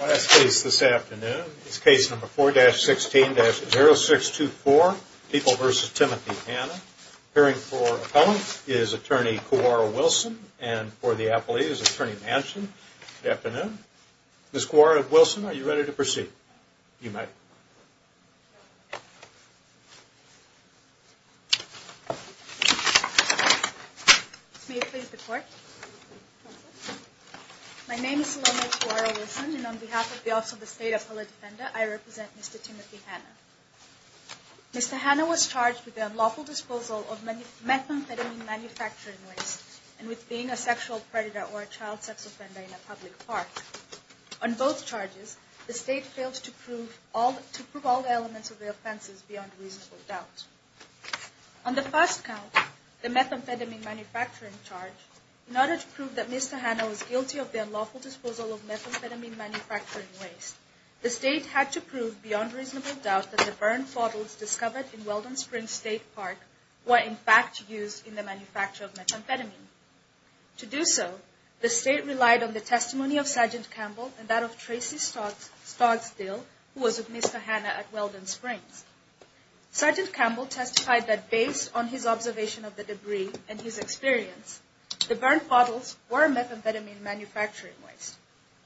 Last case this afternoon is case number 4-16-0624, People v. Timothy Hannah. Appearing for appellant is attorney Kawara Wilson and for the appellee is attorney Manson. Good afternoon. Ms. Kawara-Wilson, are you ready to proceed? You may. My name is Saloma Kawara-Wilson and on behalf of the Office of the State Appellate Defender, I represent Mr. Timothy Hannah. Mr. Hannah was charged with the unlawful disposal of methamphetamine manufacturing waste and with being a sexual predator or a child sex offender in a public park. On both charges, the State failed to prove all the elements of the offenses beyond reasonable doubt. On the first count, the methamphetamine manufacturing charge, in order to prove that Mr. Hannah was guilty of the unlawful disposal of methamphetamine manufacturing waste, the State had to prove beyond reasonable doubt that the burned bottles discovered in Weldon Springs State Park were in fact used in the manufacture of methamphetamine. To do so, the State relied on the testimony of Sgt. Campbell and that of Tracy Stodsdill, who was with Mr. Hannah at Weldon Springs. Sgt. Campbell testified that based on his observation of the debris and his experience, the burned bottles were methamphetamine manufacturing waste.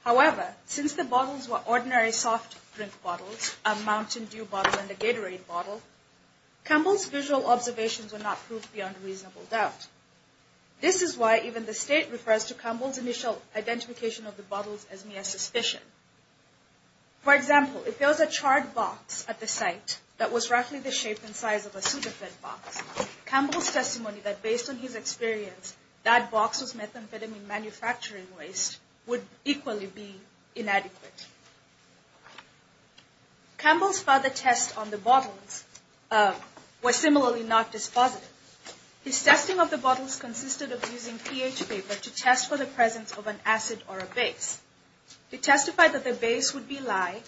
However, since the bottles were ordinary soft drink bottles, a Mountain Dew bottle and a Gatorade bottle, Campbell's visual observations were not proved beyond reasonable doubt. This is why even the State refers to Campbell's initial identification of the bottles as mere suspicion. For example, if there was a charred box at the site that was roughly the shape and size of a super fed box, Campbell's testimony that based on his experience, that box was methamphetamine manufacturing waste would equally be inadequate. Campbell's further tests on the bottles were similarly not dispositive. His testing of the bottles consisted of using pH paper to test for the presence of an acid or a base. He testified that the base would be lye,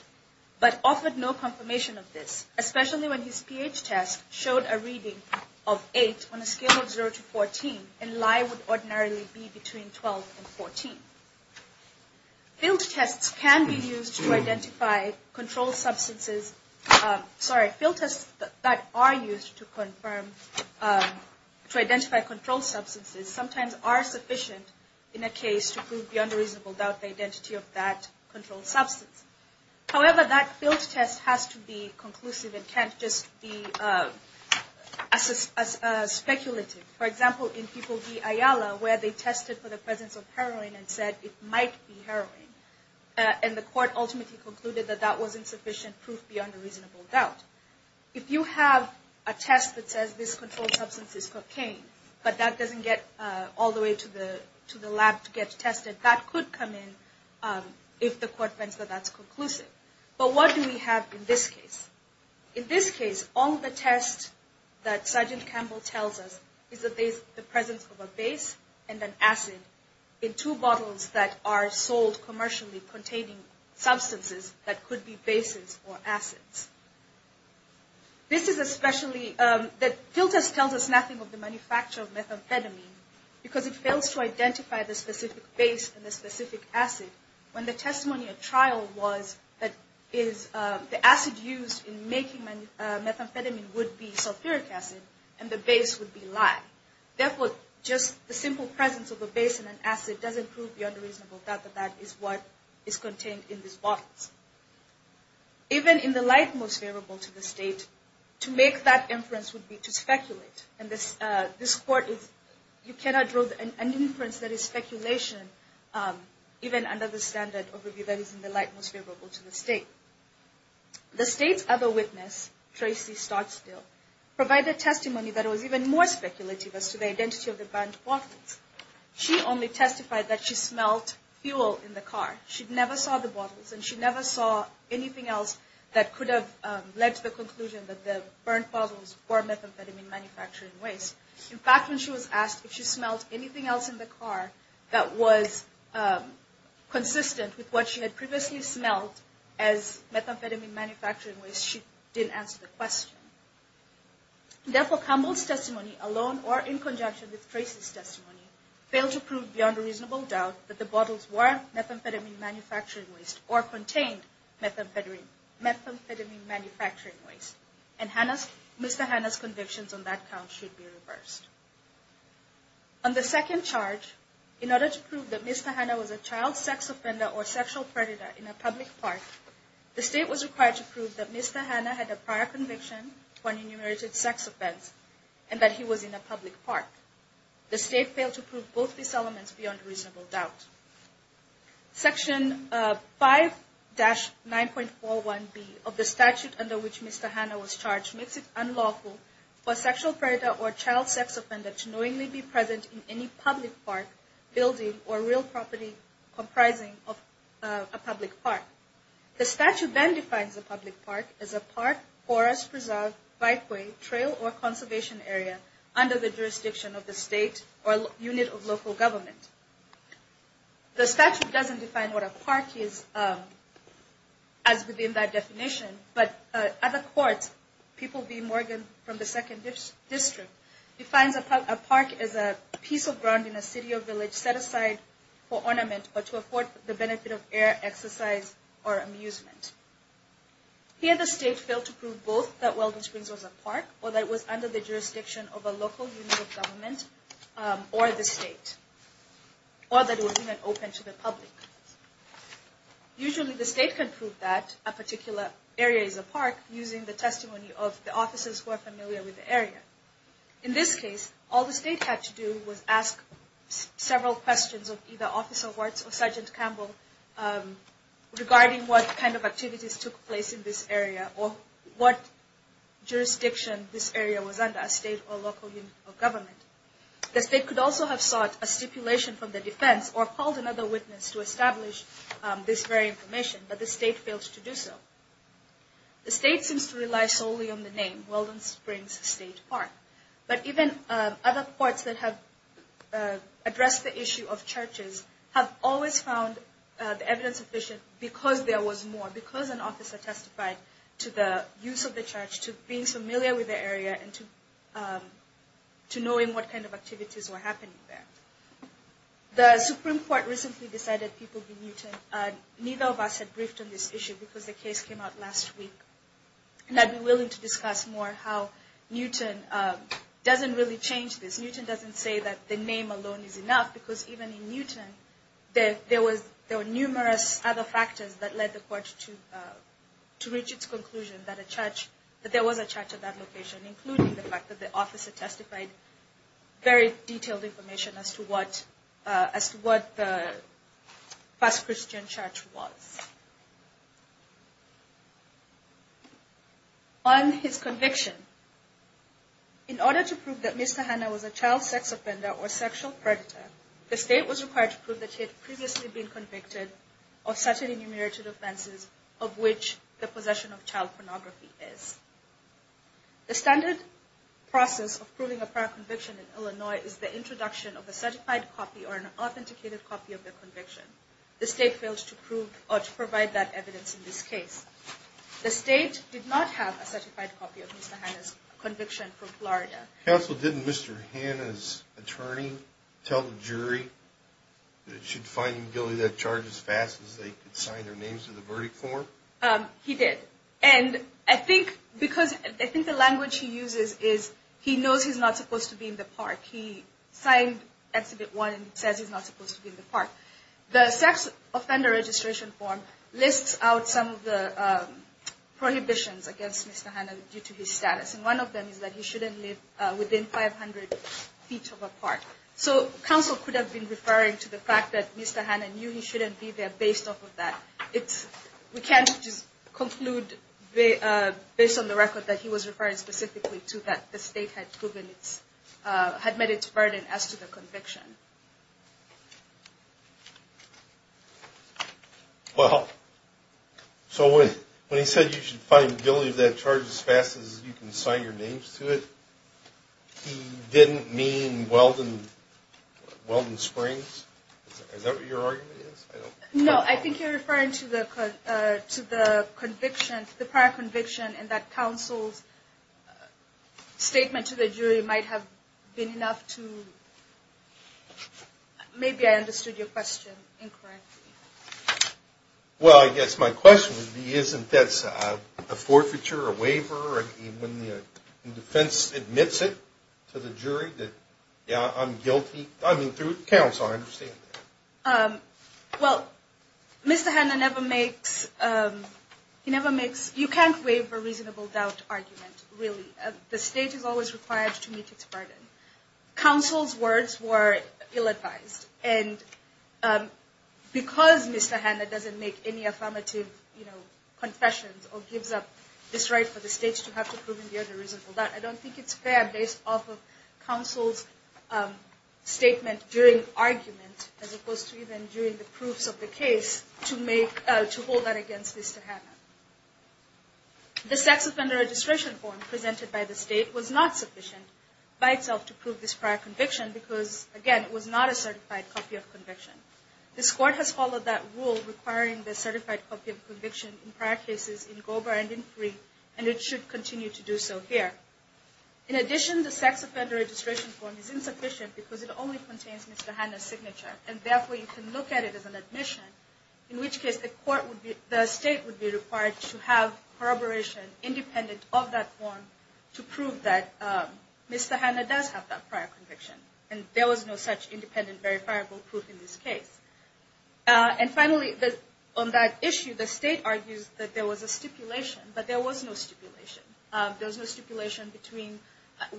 but offered no confirmation of this, especially when his pH test showed a reading of 8 on a scale of 0 to 14, and lye would ordinarily be between 12 and 14. Field tests can be used to identify controlled substances. Sorry, field tests that are used to identify controlled substances sometimes are sufficient in a case to prove beyond a reasonable doubt the identity of that controlled substance. However, that field test has to be conclusive and can't just be speculative. For example, in People v. Ayala, where they tested for the presence of heroin and said it might be heroin, and the court ultimately concluded that that was insufficient proof beyond a reasonable doubt. If you have a test that says this controlled substance is cocaine, but that doesn't get all the way to the lab to get tested, that could come in if the court finds that that's conclusive. But what do we have in this case? In this case, all the tests that Sergeant Campbell tells us is the presence of a base and an acid in two bottles that are sold commercially containing substances that could be bases or acids. This is especially, the field test tells us nothing of the manufacture of methamphetamine, because it fails to identify the specific base and the specific acid. When the testimony at trial was that the acid used in making methamphetamine would be sulfuric acid and the base would be lye. Therefore, just the simple presence of a base and an acid doesn't prove beyond a reasonable doubt that that is what is contained in these bottles. Even in the light most favorable to the state, to make that inference would be to speculate. And this court, you cannot draw an inference that is speculation even under the standard overview that is in the light most favorable to the state. The state's other witness, Tracy Startstill, provided testimony that was even more speculative as to the identity of the burnt bottles. She only testified that she smelled fuel in the car. She never saw the bottles and she never saw anything else that could have led to the conclusion that the burnt bottles were methamphetamine manufacturing waste. In fact, when she was asked if she smelled anything else in the car that was consistent with what she had previously smelled as methamphetamine manufacturing waste, she didn't answer the question. Therefore, Campbell's testimony alone, or in conjunction with Tracy's testimony, failed to prove beyond a reasonable doubt that the bottles were methamphetamine manufacturing waste or contained methamphetamine manufacturing waste. And Mr. Hanna's convictions on that count should be reversed. On the second charge, in order to prove that Mr. Hanna was a child sex offender or sexual predator in a public park, the state was required to prove that Mr. Hanna had a prior conviction for an enumerated sex offense and that he was in a public park. The state failed to prove both these elements beyond reasonable doubt. Section 5-9.41b of the statute under which Mr. Hanna was charged makes it unlawful for a sexual predator or child sex offender to knowingly be present in any public park, building, or real property comprising of a public park. The statute then defines a public park as a park, forest, preserve, bikeway, trail, or conservation area under the jurisdiction of the state or unit of local government. The statute doesn't define what a park is as within that definition, but at the court, People v. Morgan from the 2nd District defines a park as a piece of ground in a city or village set aside for ornament or to afford the benefit of air, exercise, or amusement. Here the state failed to prove both that Weldon Springs was a park or that it was under the jurisdiction of a local unit of government or the state. Or that it was even open to the public. Usually the state can prove that a particular area is a park using the testimony of the officers who are familiar with the area. In this case, all the state had to do was ask several questions of either Officer Wartz or Sergeant Campbell regarding what kind of activities took place in this area or what jurisdiction this area was under, a state or local unit of government. The state could also have sought a stipulation from the defense or called another witness to establish this very information, but the state failed to do so. The state seems to rely solely on the name, Weldon Springs State Park. But even other courts that have addressed the issue of churches have always found the evidence sufficient because there was more, because an officer testified to the use of the church, to being familiar with the area, and to knowing what kind of activities were happening there. The Supreme Court recently decided people be Newton. Neither of us had briefed on this issue because the case came out last week. And I'd be willing to discuss more how Newton doesn't really change this. Newton doesn't say that the name alone is enough because even in Newton, there were numerous other factors that led the court to reach its conclusion that there was a church at that location, including the fact that the officer testified very detailed information as to what the first Christian church was. On his conviction, in order to prove that Mr. Hannah was a child sex offender or sexual predator, the state was required to prove that he had previously been convicted of certain enumerated offenses of which the possession of child pornography is. The standard process of proving a prior conviction in Illinois is the introduction of a certified copy or an authenticated copy of the conviction. The state failed to prove or to provide that evidence in this case. The state did not have a certified copy of Mr. Hannah's conviction from Florida. Counsel, didn't Mr. Hannah's attorney tell the jury that it should find him guilty of that charge as fast as they could sign their names to the verdict form? He did. And I think because I think the language he uses is he knows he's not supposed to be in the park. He signed Exhibit 1 and says he's not supposed to be in the park. The sex offender registration form lists out some of the prohibitions against Mr. Hannah due to his status. And one of them is that he shouldn't live within 500 feet of a park. So counsel could have been referring to the fact that Mr. Hannah knew he shouldn't be there based off of that. We can't just conclude based on the record that he was referring specifically to that the state had met its burden as to the conviction. Well, so when he said you should find guilty of that charge as fast as you can sign your names to it, he didn't mean Weldon Springs? Is that what your argument is? No, I think you're referring to the conviction, the prior conviction, and that counsel's statement to the jury might have been enough to maybe I understood your question incorrectly. Well, I guess my question would be isn't this a forfeiture, a waiver, when the defense admits it to the jury that, yeah, I'm guilty? I mean, through counsel, I understand that. Well, Mr. Hannah never makes, he never makes, you can't waive a reasonable doubt argument, really. The state is always required to meet its burden. Counsel's words were ill-advised. And because Mr. Hannah doesn't make any affirmative, you know, confessions or gives up this right for the states to have to prove I don't think it's fair based off of counsel's statement during argument as opposed to even during the proofs of the case to hold that against Mr. Hannah. The sex offender registration form presented by the state was not sufficient by itself to prove this prior conviction because, again, it was not a certified copy of conviction. This court has followed that rule requiring the certified copy of conviction in prior cases in Gober and in Free, and it should continue to do so here. In addition, the sex offender registration form is insufficient because it only contains Mr. Hannah's signature, and therefore you can look at it as an admission, in which case the court would be, the state would be required to have corroboration independent of that form to prove that Mr. Hannah does have that prior conviction. And there was no such independent, verifiable proof in this case. And finally, on that issue, the state argues that there was a stipulation, but there was no stipulation. There was no stipulation between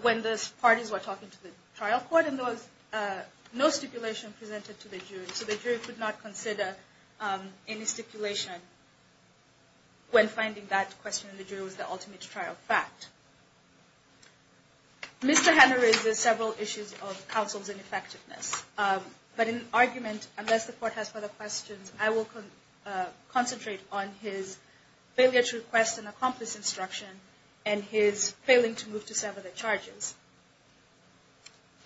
when those parties were talking to the trial court, and there was no stipulation presented to the jury. So the jury could not consider any stipulation when finding that question in the jury was the ultimate trial fact. Mr. Hannah raises several issues of counsel's ineffectiveness. But in argument, unless the court has further questions, I will concentrate on his failure to request an accomplice instruction and his failing to move to sever the charges.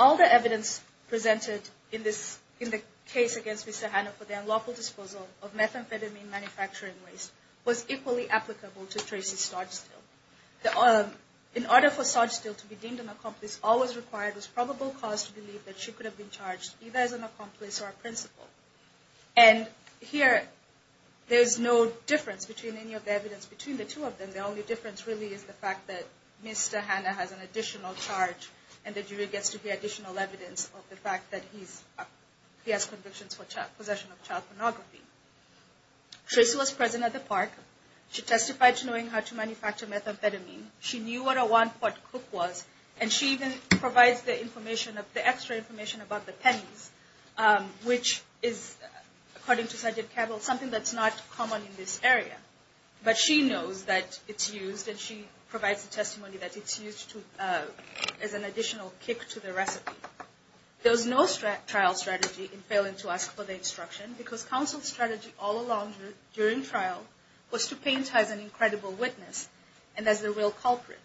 All the evidence presented in the case against Mr. Hannah for the unlawful disposal of methamphetamine manufacturing waste was equally applicable to Tracy Sogstill. In order for Sogstill to be deemed an accomplice, all that was required was probable cause to believe that she could have been charged either as an accomplice or a principal. And here, there is no difference between any of the evidence between the two of them. The only difference really is the fact that Mr. Hannah has an additional charge, and the jury gets to hear additional evidence of the fact that he has convictions for possession of child pornography. Tracy was present at the park. She testified to knowing how to manufacture methamphetamine. She knew what a one-pot cook was, and she even provides the extra information about the pennies, which is, according to Sgt. Cabell, something that's not common in this area. But she knows that it's used, and she provides the testimony that it's used as an additional kick to the recipe. There was no trial strategy in failing to ask for the instruction, because counsel's strategy all along during trial was to paint her as an incredible witness and as the real culprit.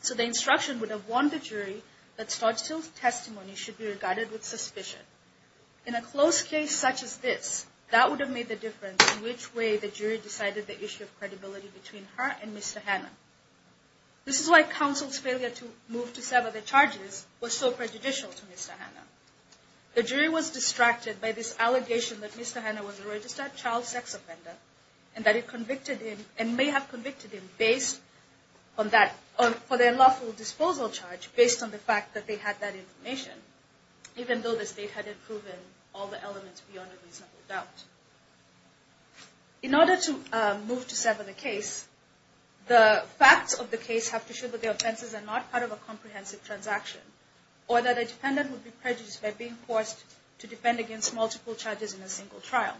So the instruction would have warned the jury that Sogstill's testimony should be regarded with suspicion. In a close case such as this, that would have made the difference in which way the jury decided the issue of credibility between her and Mr. Hannah. This is why counsel's failure to move to sever the charges was so prejudicial to Mr. Hannah. The jury was distracted by this allegation that Mr. Hannah was a registered child sex offender, and that it convicted him, and may have convicted him, based on that, for their lawful disposal charge, based on the fact that they had that information, even though the state hadn't proven all the elements beyond a reasonable doubt. In order to move to sever the case, the facts of the case have to show that the offenses are not part of a comprehensive transaction, or that a defendant would be prejudiced by being forced to defend against multiple charges in a single trial.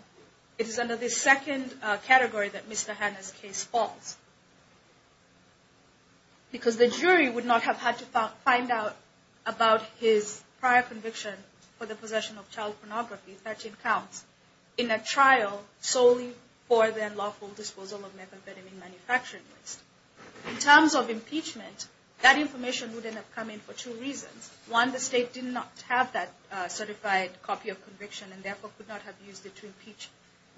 It is under this second category that Mr. Hannah's case falls, because the jury would not have had to find out about his prior conviction for the possession of child pornography, 13 counts, in a trial solely for their lawful disposal of methamphetamine manufacturing waste. In terms of impeachment, that information wouldn't have come in for two reasons. One, the state did not have that certified copy of conviction, and therefore could not have used it to impeach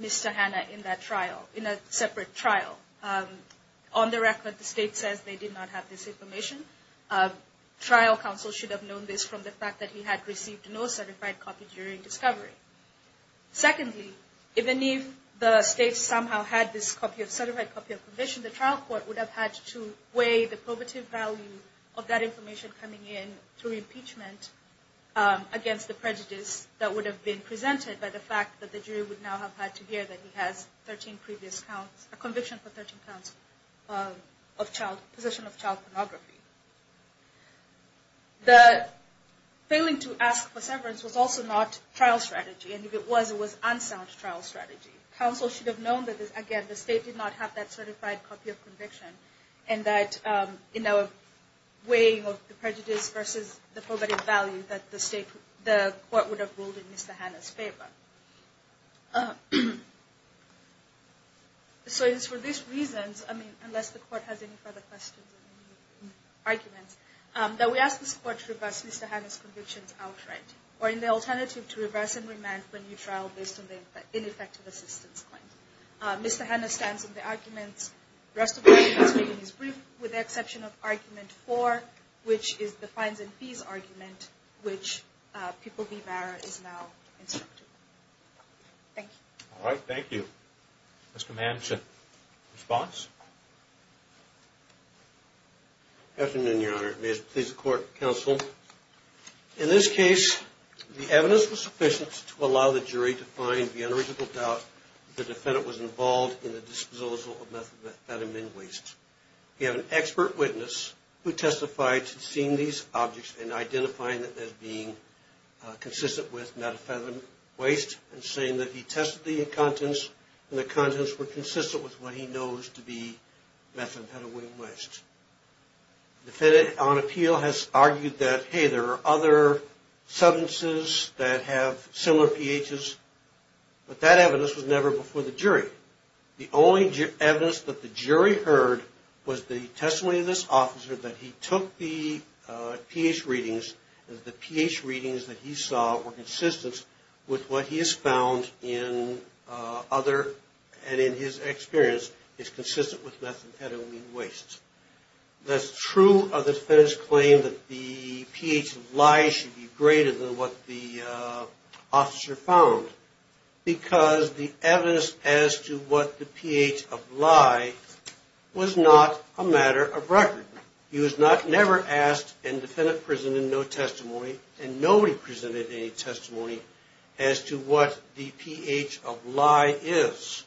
Mr. Hannah in that trial, in a separate trial. On the record, the state says they did not have this information. Trial counsel should have known this from the fact that he had received no certified copy during discovery. Secondly, even if the state somehow had this certified copy of conviction, the trial court would have had to weigh the probative value of that information coming in through impeachment against the prejudice that would have been presented by the fact that the jury would now have had to hear that he has a conviction for 13 counts of possession of child pornography. The failing to ask for severance was also not trial strategy, and if it was, it was unsound trial strategy. Counsel should have known that, again, the state did not have that certified copy of conviction, and that in our weighing of the prejudice versus the probative value that the court would have ruled in Mr. Hannah's favor. So it is for these reasons, I mean, unless the court has any further questions or any arguments, that we ask this court to reverse Mr. Hannah's convictions outright, or in the alternative, to reverse and remand for a new trial based on the ineffective assistance claim. Mr. Hannah stands on the arguments. The rest of the argument is made in his brief, with the exception of Argument 4, which is the fines and fees argument, which People v. Barra is now instructing. Thank you. All right. Thank you. Mr. Manchin. Response? Afternoon, Your Honor. May it please the court, counsel. In this case, the evidence was sufficient to allow the jury to find the unreasonable doubt that the defendant was involved in the disposal of methamphetamine waste. We have an expert witness who testified to seeing these objects and identifying them as being consistent with methamphetamine waste and saying that he tested the contents and the contents were consistent with what he knows to be methamphetamine waste. The defendant on appeal has argued that, hey, there are other substances that have similar pHs, but that evidence was never before the jury. The only evidence that the jury heard was the testimony of this officer that he took the pH readings and the pH readings that he saw were consistent with what he has found in other and in his experience is consistent with methamphetamine waste. That's true of the defendant's claim that the pH of lye should be greater than what the officer found because the evidence as to what the pH of lye was not a matter of record. He was never asked and the defendant presented no testimony and nobody presented any testimony as to what the pH of lye is.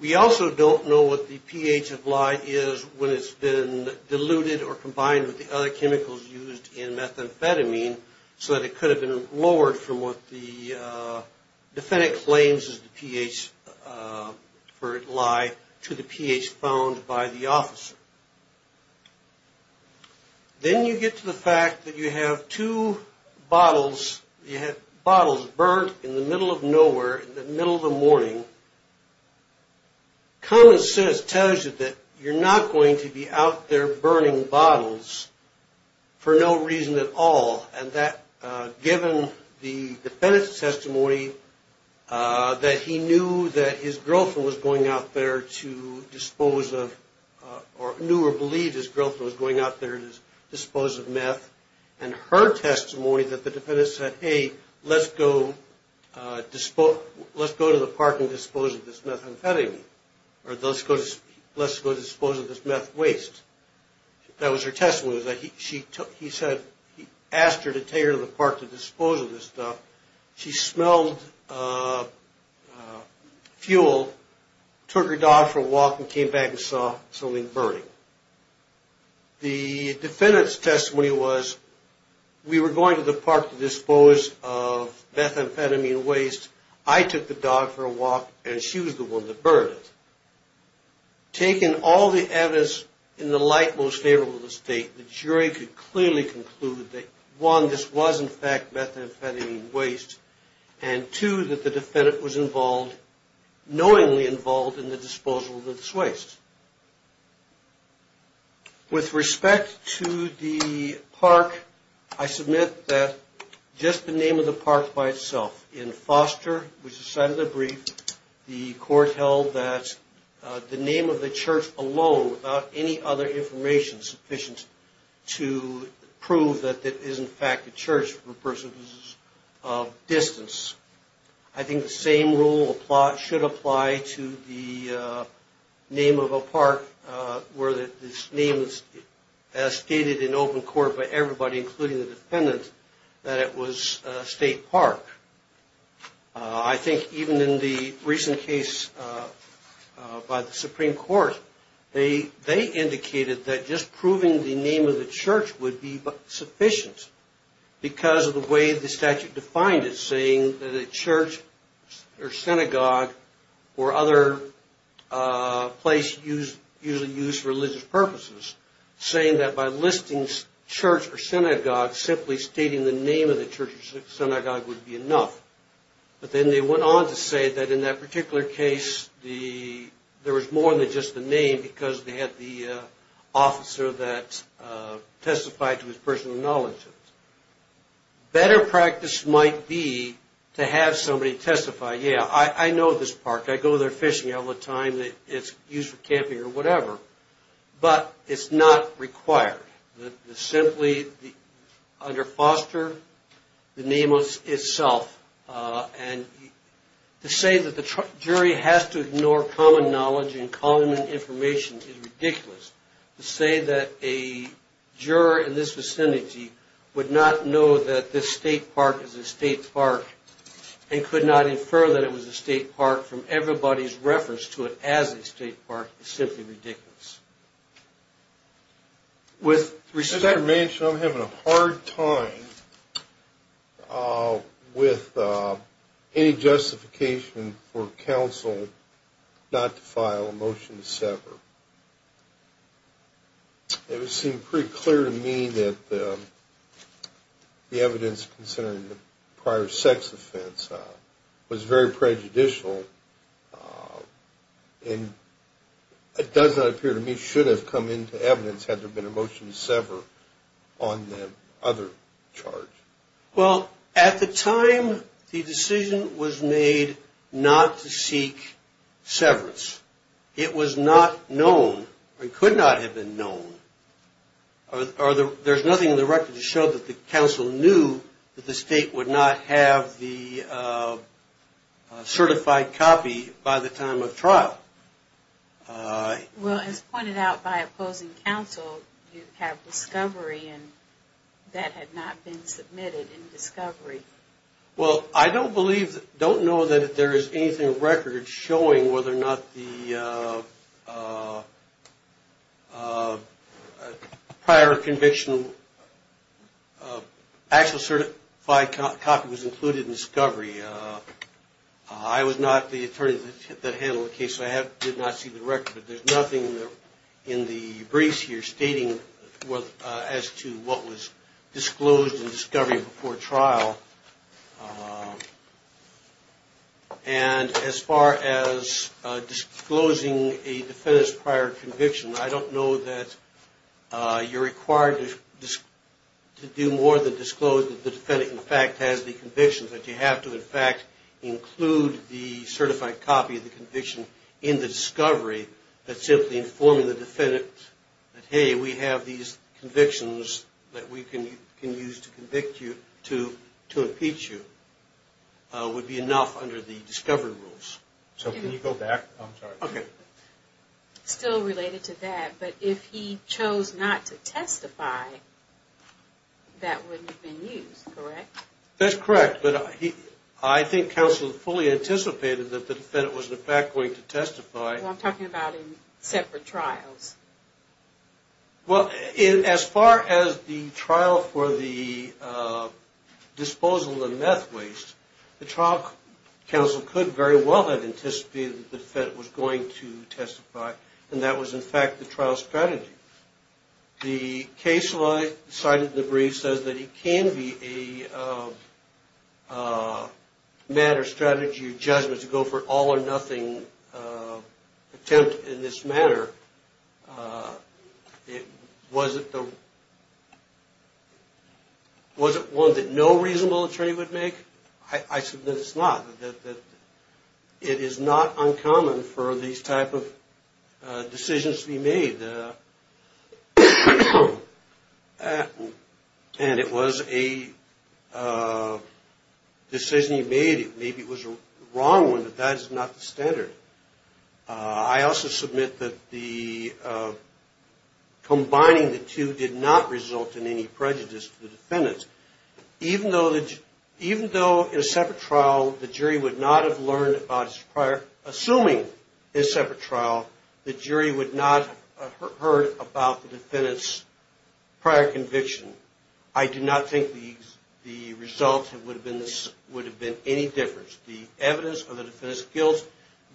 We also don't know what the pH of lye is when it's been diluted or combined with the other chemicals used in methamphetamine so that it could have been lowered from what the defendant claims is the pH for lye to the pH found by the officer. Then you get to the fact that you have two bottles, you have bottles burnt in the middle of nowhere in the middle of the morning. Common Sense tells you that you're not going to be out there burning bottles for no reason at all and that given the defendant's testimony that he knew that his girlfriend was going out there to dispose of or knew or believed his girlfriend was going out there to dispose of meth and her testimony that the defendant said, hey, let's go to the park and dispose of this methamphetamine or let's go dispose of this meth waste. That was her testimony. He said he asked her to take her to the park to dispose of this stuff. She smelled fuel, took her dog for a walk and came back and saw something burning. The defendant's testimony was we were going to the park to dispose of methamphetamine waste. I took the dog for a walk and she was the one that burned it. Taking all the evidence in the light most favorable to the state, the jury could clearly conclude that one, this was in fact methamphetamine waste and two, that the defendant was involved, knowingly involved in the disposal of this waste. With respect to the park, I submit that just the name of the park by itself, in Foster, which is cited in the brief, the court held that the name of the church alone, without any other information sufficient to prove that it is in fact a church for persons of distance. I think the same rule should apply to the name of a park where this name is as stated in open court by everybody, including the defendant, that it was State Park. I think even in the recent case by the Supreme Court, they indicated that just proving the name of the church would be sufficient because of the way the statute defined it, saying that a church or synagogue or other place usually used for religious purposes, saying that by listing church or synagogue, simply stating the name of the church or synagogue would be enough. But then they went on to say that in that particular case there was more than just the name because they had the officer that testified to his personal knowledge of it. Better practice might be to have somebody testify, yeah, I know this park, I go there fishing all the time, it's used for camping or whatever, but it's not required to simply under foster the name itself. And to say that the jury has to ignore common knowledge and common information is ridiculous. To say that a juror in this vicinity would not know that this State Park is a State Park and could not infer that it was a State Park from everybody's reference to it as a State Park is simply ridiculous. As I mentioned, I'm having a hard time with any justification for counsel not to file a motion to sever. It would seem pretty clear to me that the evidence concerning the prior sex offense was very prejudicial and it does not appear to me should have come into evidence had there been a motion to sever on the other charge. Well, at the time the decision was made not to seek severance. It was not known or could not have been known or there's nothing in the record to show that the counsel knew that the State would not have the certified copy by the time of trial. Well, as pointed out by opposing counsel, you have discovery and that had not been submitted in discovery. Well, I don't believe, don't know that there is anything in record showing whether or not the prior conviction, actual certified copy was included in discovery. I was not the attorney that handled the case so I did not see the record, but there's nothing in the briefs here stating as to what was disclosed in discovery before trial. And as far as disclosing a defendant's prior conviction, I don't know that you're required to do more than disclose that the defendant in fact has the conviction, but you have to in fact include the certified copy of the conviction in the discovery that's simply informing the defendant that, hey, we have these convictions that we can use to convict you, to impeach you, would be enough under the discovery rules. So can you go back? Still related to that, but if he chose not to testify, that wouldn't have been used, correct? That's correct, but I think counsel fully anticipated that the defendant was in fact going to testify. Well, I'm talking about in separate trials. Well, as far as the trial for the disposal of the meth waste, the trial counsel could very well have anticipated that the defendant was going to testify, and that was in fact the trial's strategy. The case law cited in the brief says that it can be a matter, strategy, or judgment to go for an all or nothing attempt in this matter, was it one that no reasonable attorney would make? I submit it's not, that it is not uncommon for these type of decisions to be made, and it was a decision he made, maybe it was a wrong one, but that is not the standard. I also submit that combining the two did not result in any prejudice to the defendant. Even though in a separate trial the jury would not have learned about his prior, assuming in a separate trial the jury would not have heard about the defendant's prior conviction, I do not think the result would have been any different. The evidence of the defendant's guilt,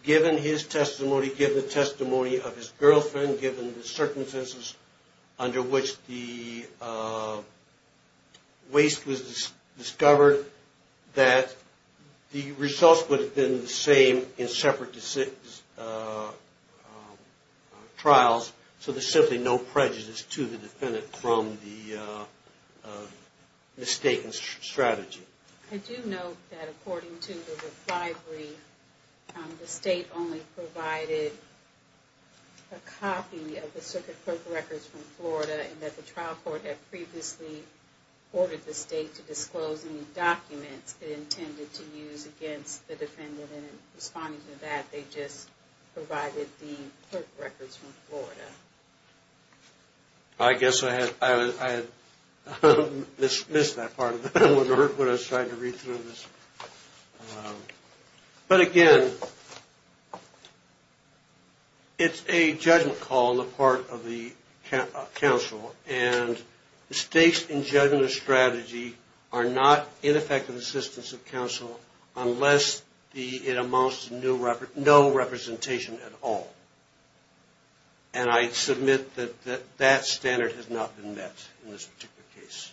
given his testimony, given the testimony of his girlfriend, given the circumstances under which the waste was discovered, that the results would have been the same in separate trials, so there's simply no prejudice to the defendant from the mistaken strategy. I do note that according to the reply brief, the state only provided a copy of the circuit clerk records from Florida, and that the trial court had previously ordered the state to disclose any documents it intended to use against the defendant, and in responding to that they just provided the clerk records from Florida. I guess I had missed that part when I was trying to read through this. But again, it's a judgment call on the part of the counsel, and mistakes in judgment of strategy are not ineffective assistance of counsel unless it amounts to no representation at all. And I submit that that standard has not been met in this particular case.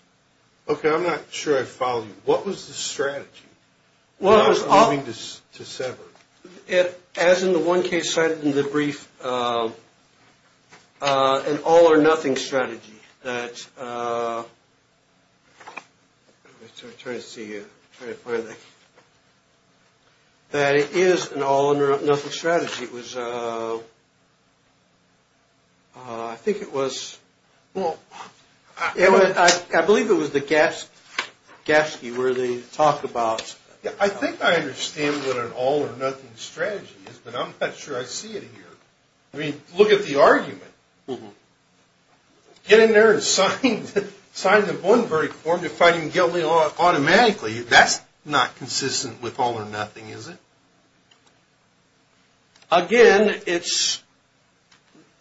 Okay, I'm not sure I follow you. What was the strategy? As in the one case cited in the brief, an all or nothing strategy. That it is an all or nothing strategy. I think it was, I believe it was the Gatsky where they talk about... I think I understand what an all or nothing strategy is, but I'm not sure I see it here. I mean, look at the argument. Get in there and sign the bond verdict for him to find him guilty automatically. That's not consistent with all or nothing, is it? Again, it's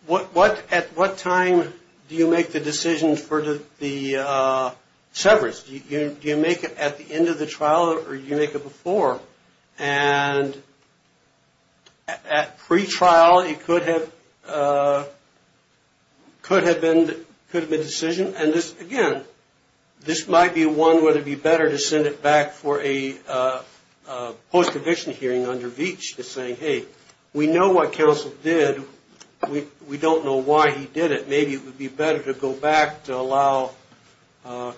at what time do you make the decision for the severance? Do you make it at the end of the trial, or do you make it before? And at pre-trial, it could have been a decision, and again, this might be one where it would be better to send it back for a post-eviction hearing under Veach. Just saying, hey, we know what counsel did. We don't know why he did it. Maybe it would be better to go back to allow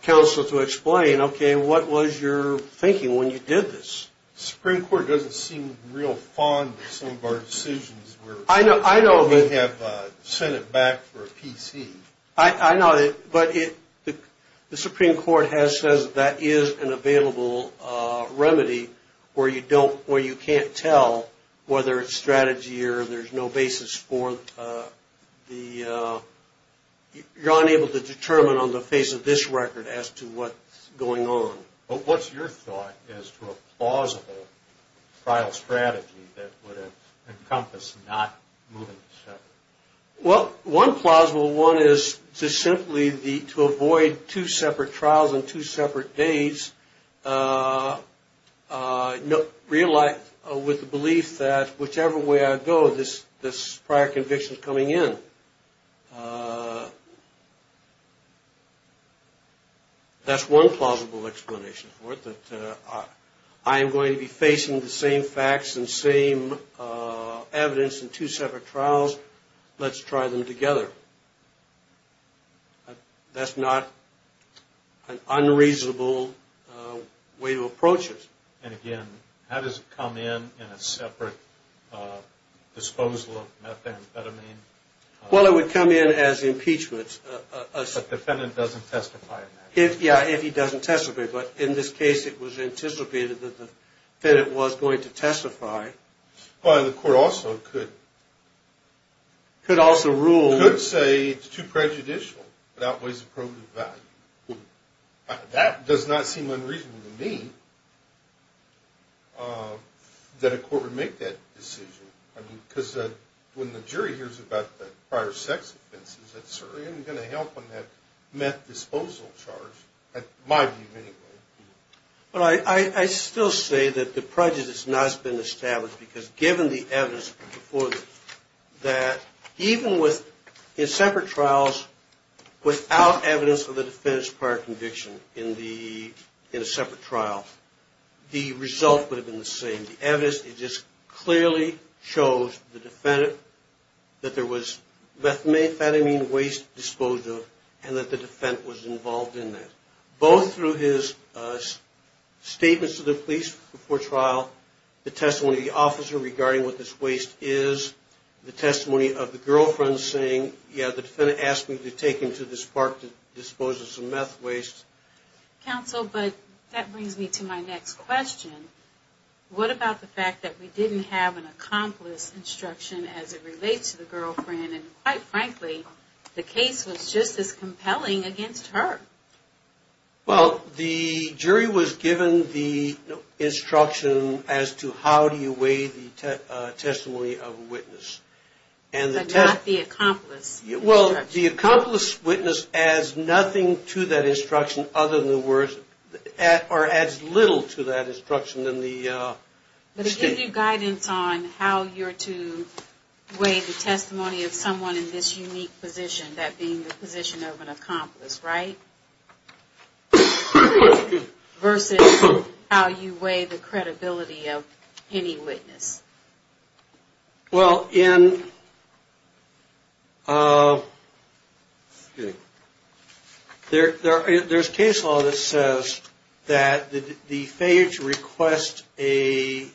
counsel to explain, okay, what was your thinking when you did this? The Supreme Court doesn't seem real fond of some of our decisions where we have sent it back for a PC. I know, but the Supreme Court has said that that is an available remedy where you can't tell whether it's strategy or there's no basis for the decision. You're unable to determine on the face of this record as to what's going on. What's your thought as to a plausible trial strategy that would encompass not moving the severance? Well, one plausible one is simply to avoid two separate trials on two separate days, with the belief that whichever way I go, this prior conviction is coming in. That's one plausible explanation for it, that I am going to be facing the same facts and same evidence in two separate trials. Let's try them together. That's not an unreasonable way to approach it. And again, how does it come in in a separate disposal of methamphetamine? Well, it would come in as impeachment. But the defendant doesn't testify in that case? Yeah, if he doesn't testify, but in this case it was anticipated that the defendant was going to testify. But the court also could say it's too prejudicial, it outweighs the probative value. That does not seem unreasonable to me that a court would make that decision. Because when the jury hears about the prior sex offenses, that certainly isn't going to help on that meth disposal charge, in my view anyway. Well, I still say that the prejudice has not been established, because given the evidence before this, that even in separate trials, without evidence of the defendant's prior conviction in a separate trial, the result would have been the same. The evidence just clearly shows the defendant that there was methamphetamine waste disposal, and that the defendant was involved in that. Both through his statements to the police before trial, the testimony of the officer regarding what this waste is, the testimony of the girlfriend saying, yeah, the defendant asked me to take him to this park to dispose of some meth waste. Counsel, but that brings me to my next question. What about the fact that we didn't have an accomplice instruction as it relates to the girlfriend, and quite frankly, the case was just as compelling against her? Well, the jury was given the instruction as to how do you weigh the testimony of a witness. But not the accomplice instruction. Well, the accomplice witness adds nothing to that instruction other than the words, or adds little to that instruction than the statement. But it gives you guidance on how you're to weigh the testimony of someone in this unique position, that being the position of an accomplice, right? Versus how you weigh the credibility of any witness. Well, in, there's case law that says that the failure to request a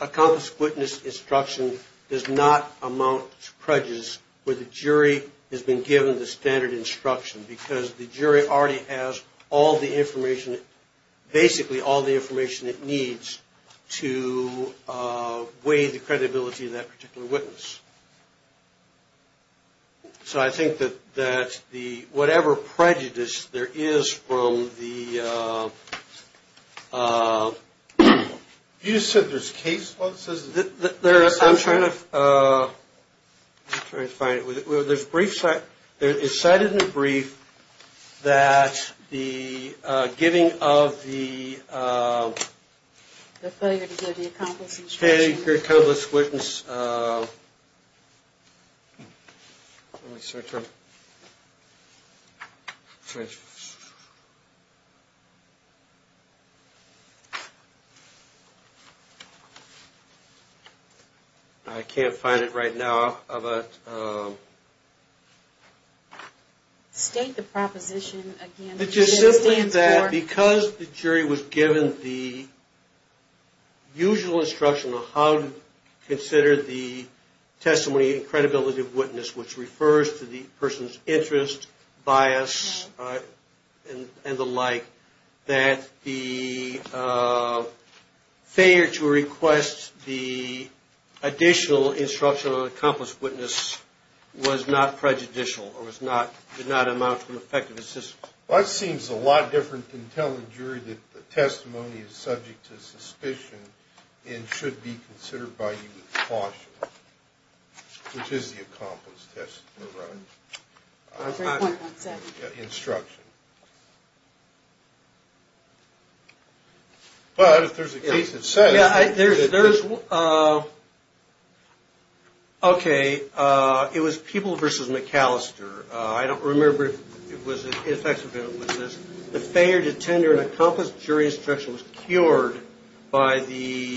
accomplice witness instruction does not amount to prejudice where the jury has been given the standard instruction. Because the jury already has all the information, basically all the information it needs to weigh the credibility of that particular witness. So I think that whatever prejudice there is from the, you said there's case law that says. I'm trying to find it. It's cited in the brief that the giving of the. The failure to give the accomplice instruction. Okay, the accomplice witness. I can't find it right now. State the proposition again. It just simply that because the jury was given the usual instruction on how to consider the testimony and credibility of the witness, which refers to the person's interest, bias, and the like, that the failure to request the additional instruction on an accomplice witness was not prejudicial, or did not amount to an effective assistance. It seems a lot different than telling the jury that the testimony is subject to suspicion and should be considered by you with caution, which is the accomplice testimony, right? Instruction. But if there's a case that says. Yeah, there's. Okay, it was people versus McAllister. I don't remember if it was effective. The failure to tender an accomplished jury instruction was cured by the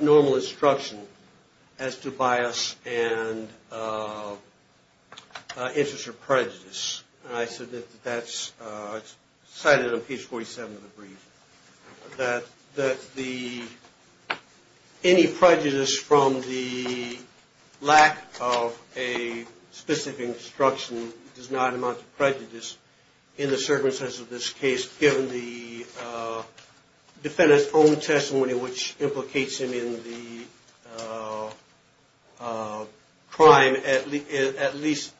normal instruction as to bias and interest or prejudice. And I said that that's cited on page 47 of the brief, that any prejudice from the lack of a specific instruction does not amount to prejudice in the circumstances of this case, given the defendant's own testimony, which implicates him in the crime, at least,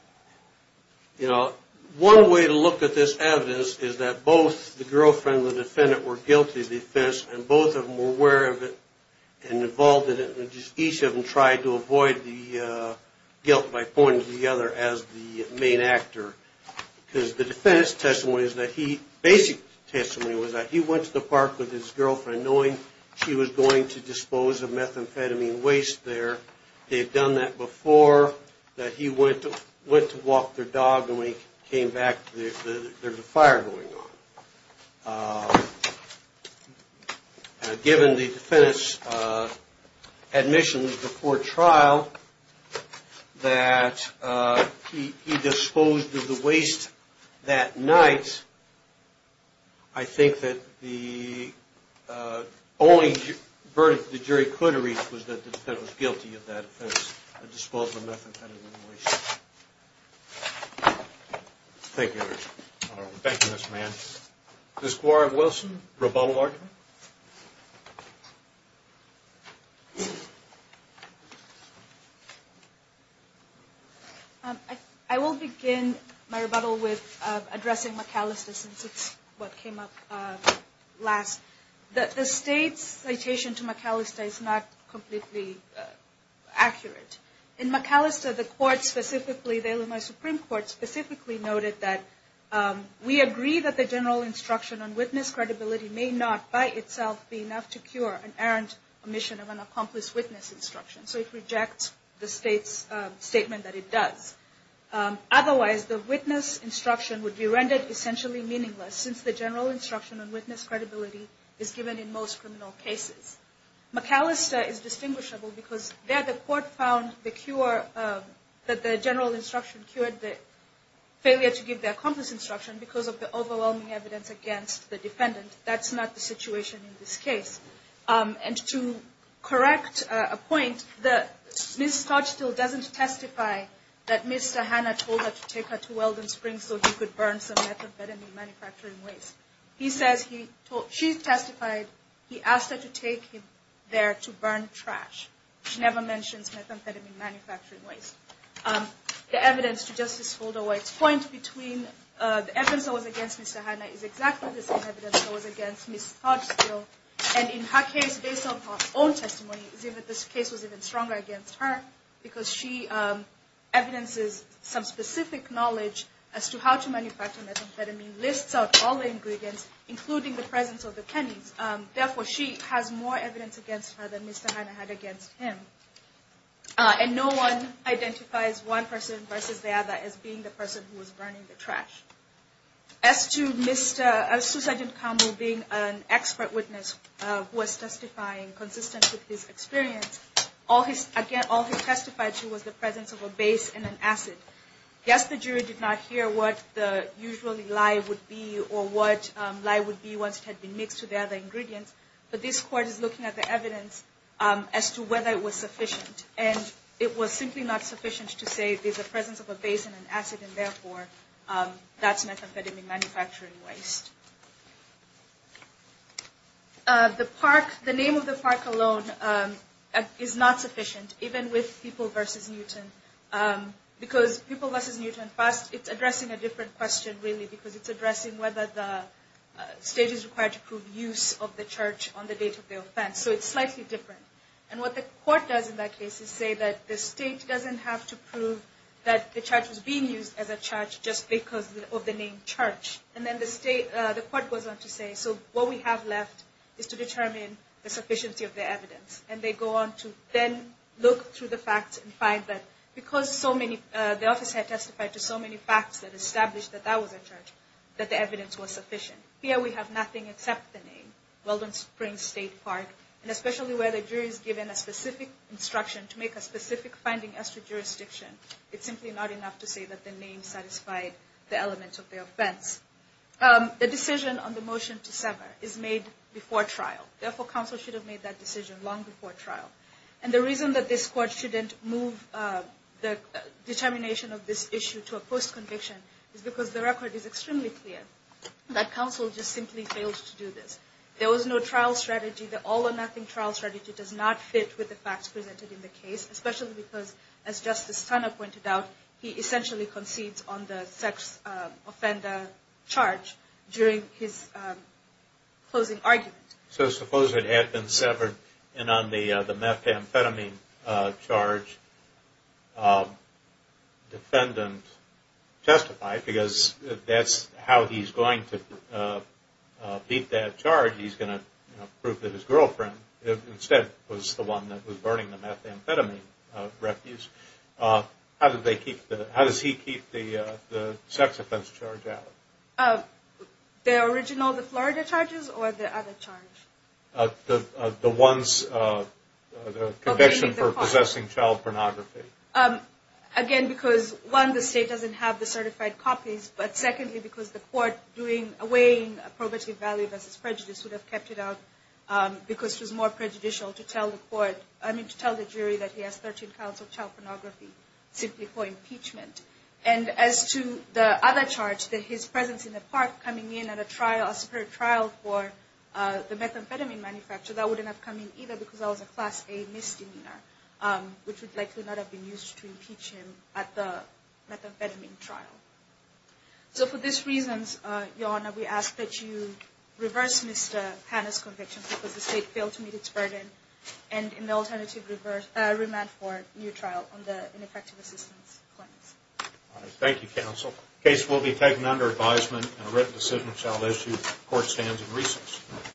you know, one way to look at this evidence is that both the girlfriend and the defendant were guilty of the offense, and both of them were aware of it and involved in it, and each of them tried to avoid the guilt by pointing to the other as the main actor. Because the defendant's testimony is that he, basic testimony was that he went to the park with his girlfriend knowing she was going to dispose of methamphetamine waste there. They've done that before, that he went to walk their dog and when he came back there was a fire going on. Given the defendant's admissions before trial that he disposed of the waste that night, I think that the only verdict the jury could reach was that the defendant was guilty of that offense of disposing of methamphetamine waste. Thank you. Thank you, Ms. Mann. Ms. Guard-Wilson, rebuttal argument? I will begin my rebuttal with addressing McAllister since it's what came up last. The state's citation to McAllister is not completely accurate. In McAllister, the court specifically, the Illinois Supreme Court specifically noted that, we agree that the general instruction on witness credibility may not by itself be enough to cure an errant omission of an accomplice witness instruction. So it rejects the state's statement that it does. Otherwise, the witness instruction would be rendered essentially meaningless since the general instruction on witness credibility is given in most criminal cases. McAllister is distinguishable because there the court found the cure, that the general instruction cured the failure to give the accomplice instruction because of the overwhelming evidence against the defendant. That's not the situation in this case. And to correct a point, Ms. Stodstill doesn't testify that Mr. Hanna told her to take her to Weldon Springs so he could burn some methamphetamine manufacturing waste. She testified he asked her to take him there to burn trash. She never mentions methamphetamine manufacturing waste. The evidence to Justice Holder White's point between the evidence that was against Mr. Hanna is exactly the same evidence that was against Ms. Stodstill. And in her case, based on her own testimony, this case was even stronger against her because she evidences some specific knowledge as to how to manufacture methamphetamine, lists out all the ingredients, including the presence of the pennies. Therefore, she has more evidence against her than Mr. Hanna had against him. And no one identifies one person versus the other as being the person who was burning the trash. As to Sgt. Campbell being an expert witness who was testifying consistent with his experience, all he testified to was the presence of a base in an acid. Yes, the jury did not hear what the usual lie would be or what lie would be once it had been mixed with the other ingredients, but this court is looking at the evidence as to whether it was sufficient. And it was simply not sufficient to say there's a presence of a base in an acid and therefore that's methamphetamine manufacturing waste. The name of the park alone is not sufficient, even with People v. Newton, because People v. Newton, first, it's addressing a different question, really, because it's addressing whether the state is required to prove use of the church on the date of the offense. So it's slightly different. And what the court does in that case is say that the state doesn't have to prove that the church was being used as a church just because of the name church. And then the court goes on to say, so what we have left is to determine the sufficiency of the evidence. And they go on to then look through the facts and find that because the office had testified to so many facts that established that that was a church, that the evidence was sufficient. Here we have nothing except the name, Weldon Springs State Park, and especially where the jury is given a specific instruction to make a specific finding as to jurisdiction, it's simply not enough to say that the name satisfied the elements of the offense. The decision on the motion to sever is made before trial. Therefore, counsel should have made that decision long before trial. And the reason that this court shouldn't move the determination of this issue to a post-conviction is because the record is extremely clear that counsel just simply fails to do this. There was no trial strategy. The all-or-nothing trial strategy does not fit with the facts presented in the case, especially because, as Justice Tanna pointed out, he essentially concedes on the sex offender charge during his closing argument. So suppose it had been severed and on the methamphetamine charge, defendant testified because that's how he's going to beat that charge. He's going to prove that his girlfriend instead was the one that was burning the methamphetamine refuse. How does he keep the sex offense charge out? The original, the Florida charges, or the other charge? The conviction for possessing child pornography. Again, because one, the state doesn't have the certified copies. But secondly, because the court doing away in probative value versus prejudice would have kept it out because it was more prejudicial to tell the jury that he has 13 counts of child pornography simply for impeachment. And as to the other charge, that his presence in the park coming in at a superior trial for the methamphetamine manufacture, that wouldn't have come in either because that was a Class A misdemeanor, which would likely not have been used to impeach him at the methamphetamine trial. So for these reasons, Your Honor, we ask that you reverse Mr. Tanna's conviction because the state failed to meet its burden and in the alternative, remand for a new trial on the ineffective assistance claims. Thank you, counsel. The case will be taken under advisement and a written decision shall issue at the court stands in recess.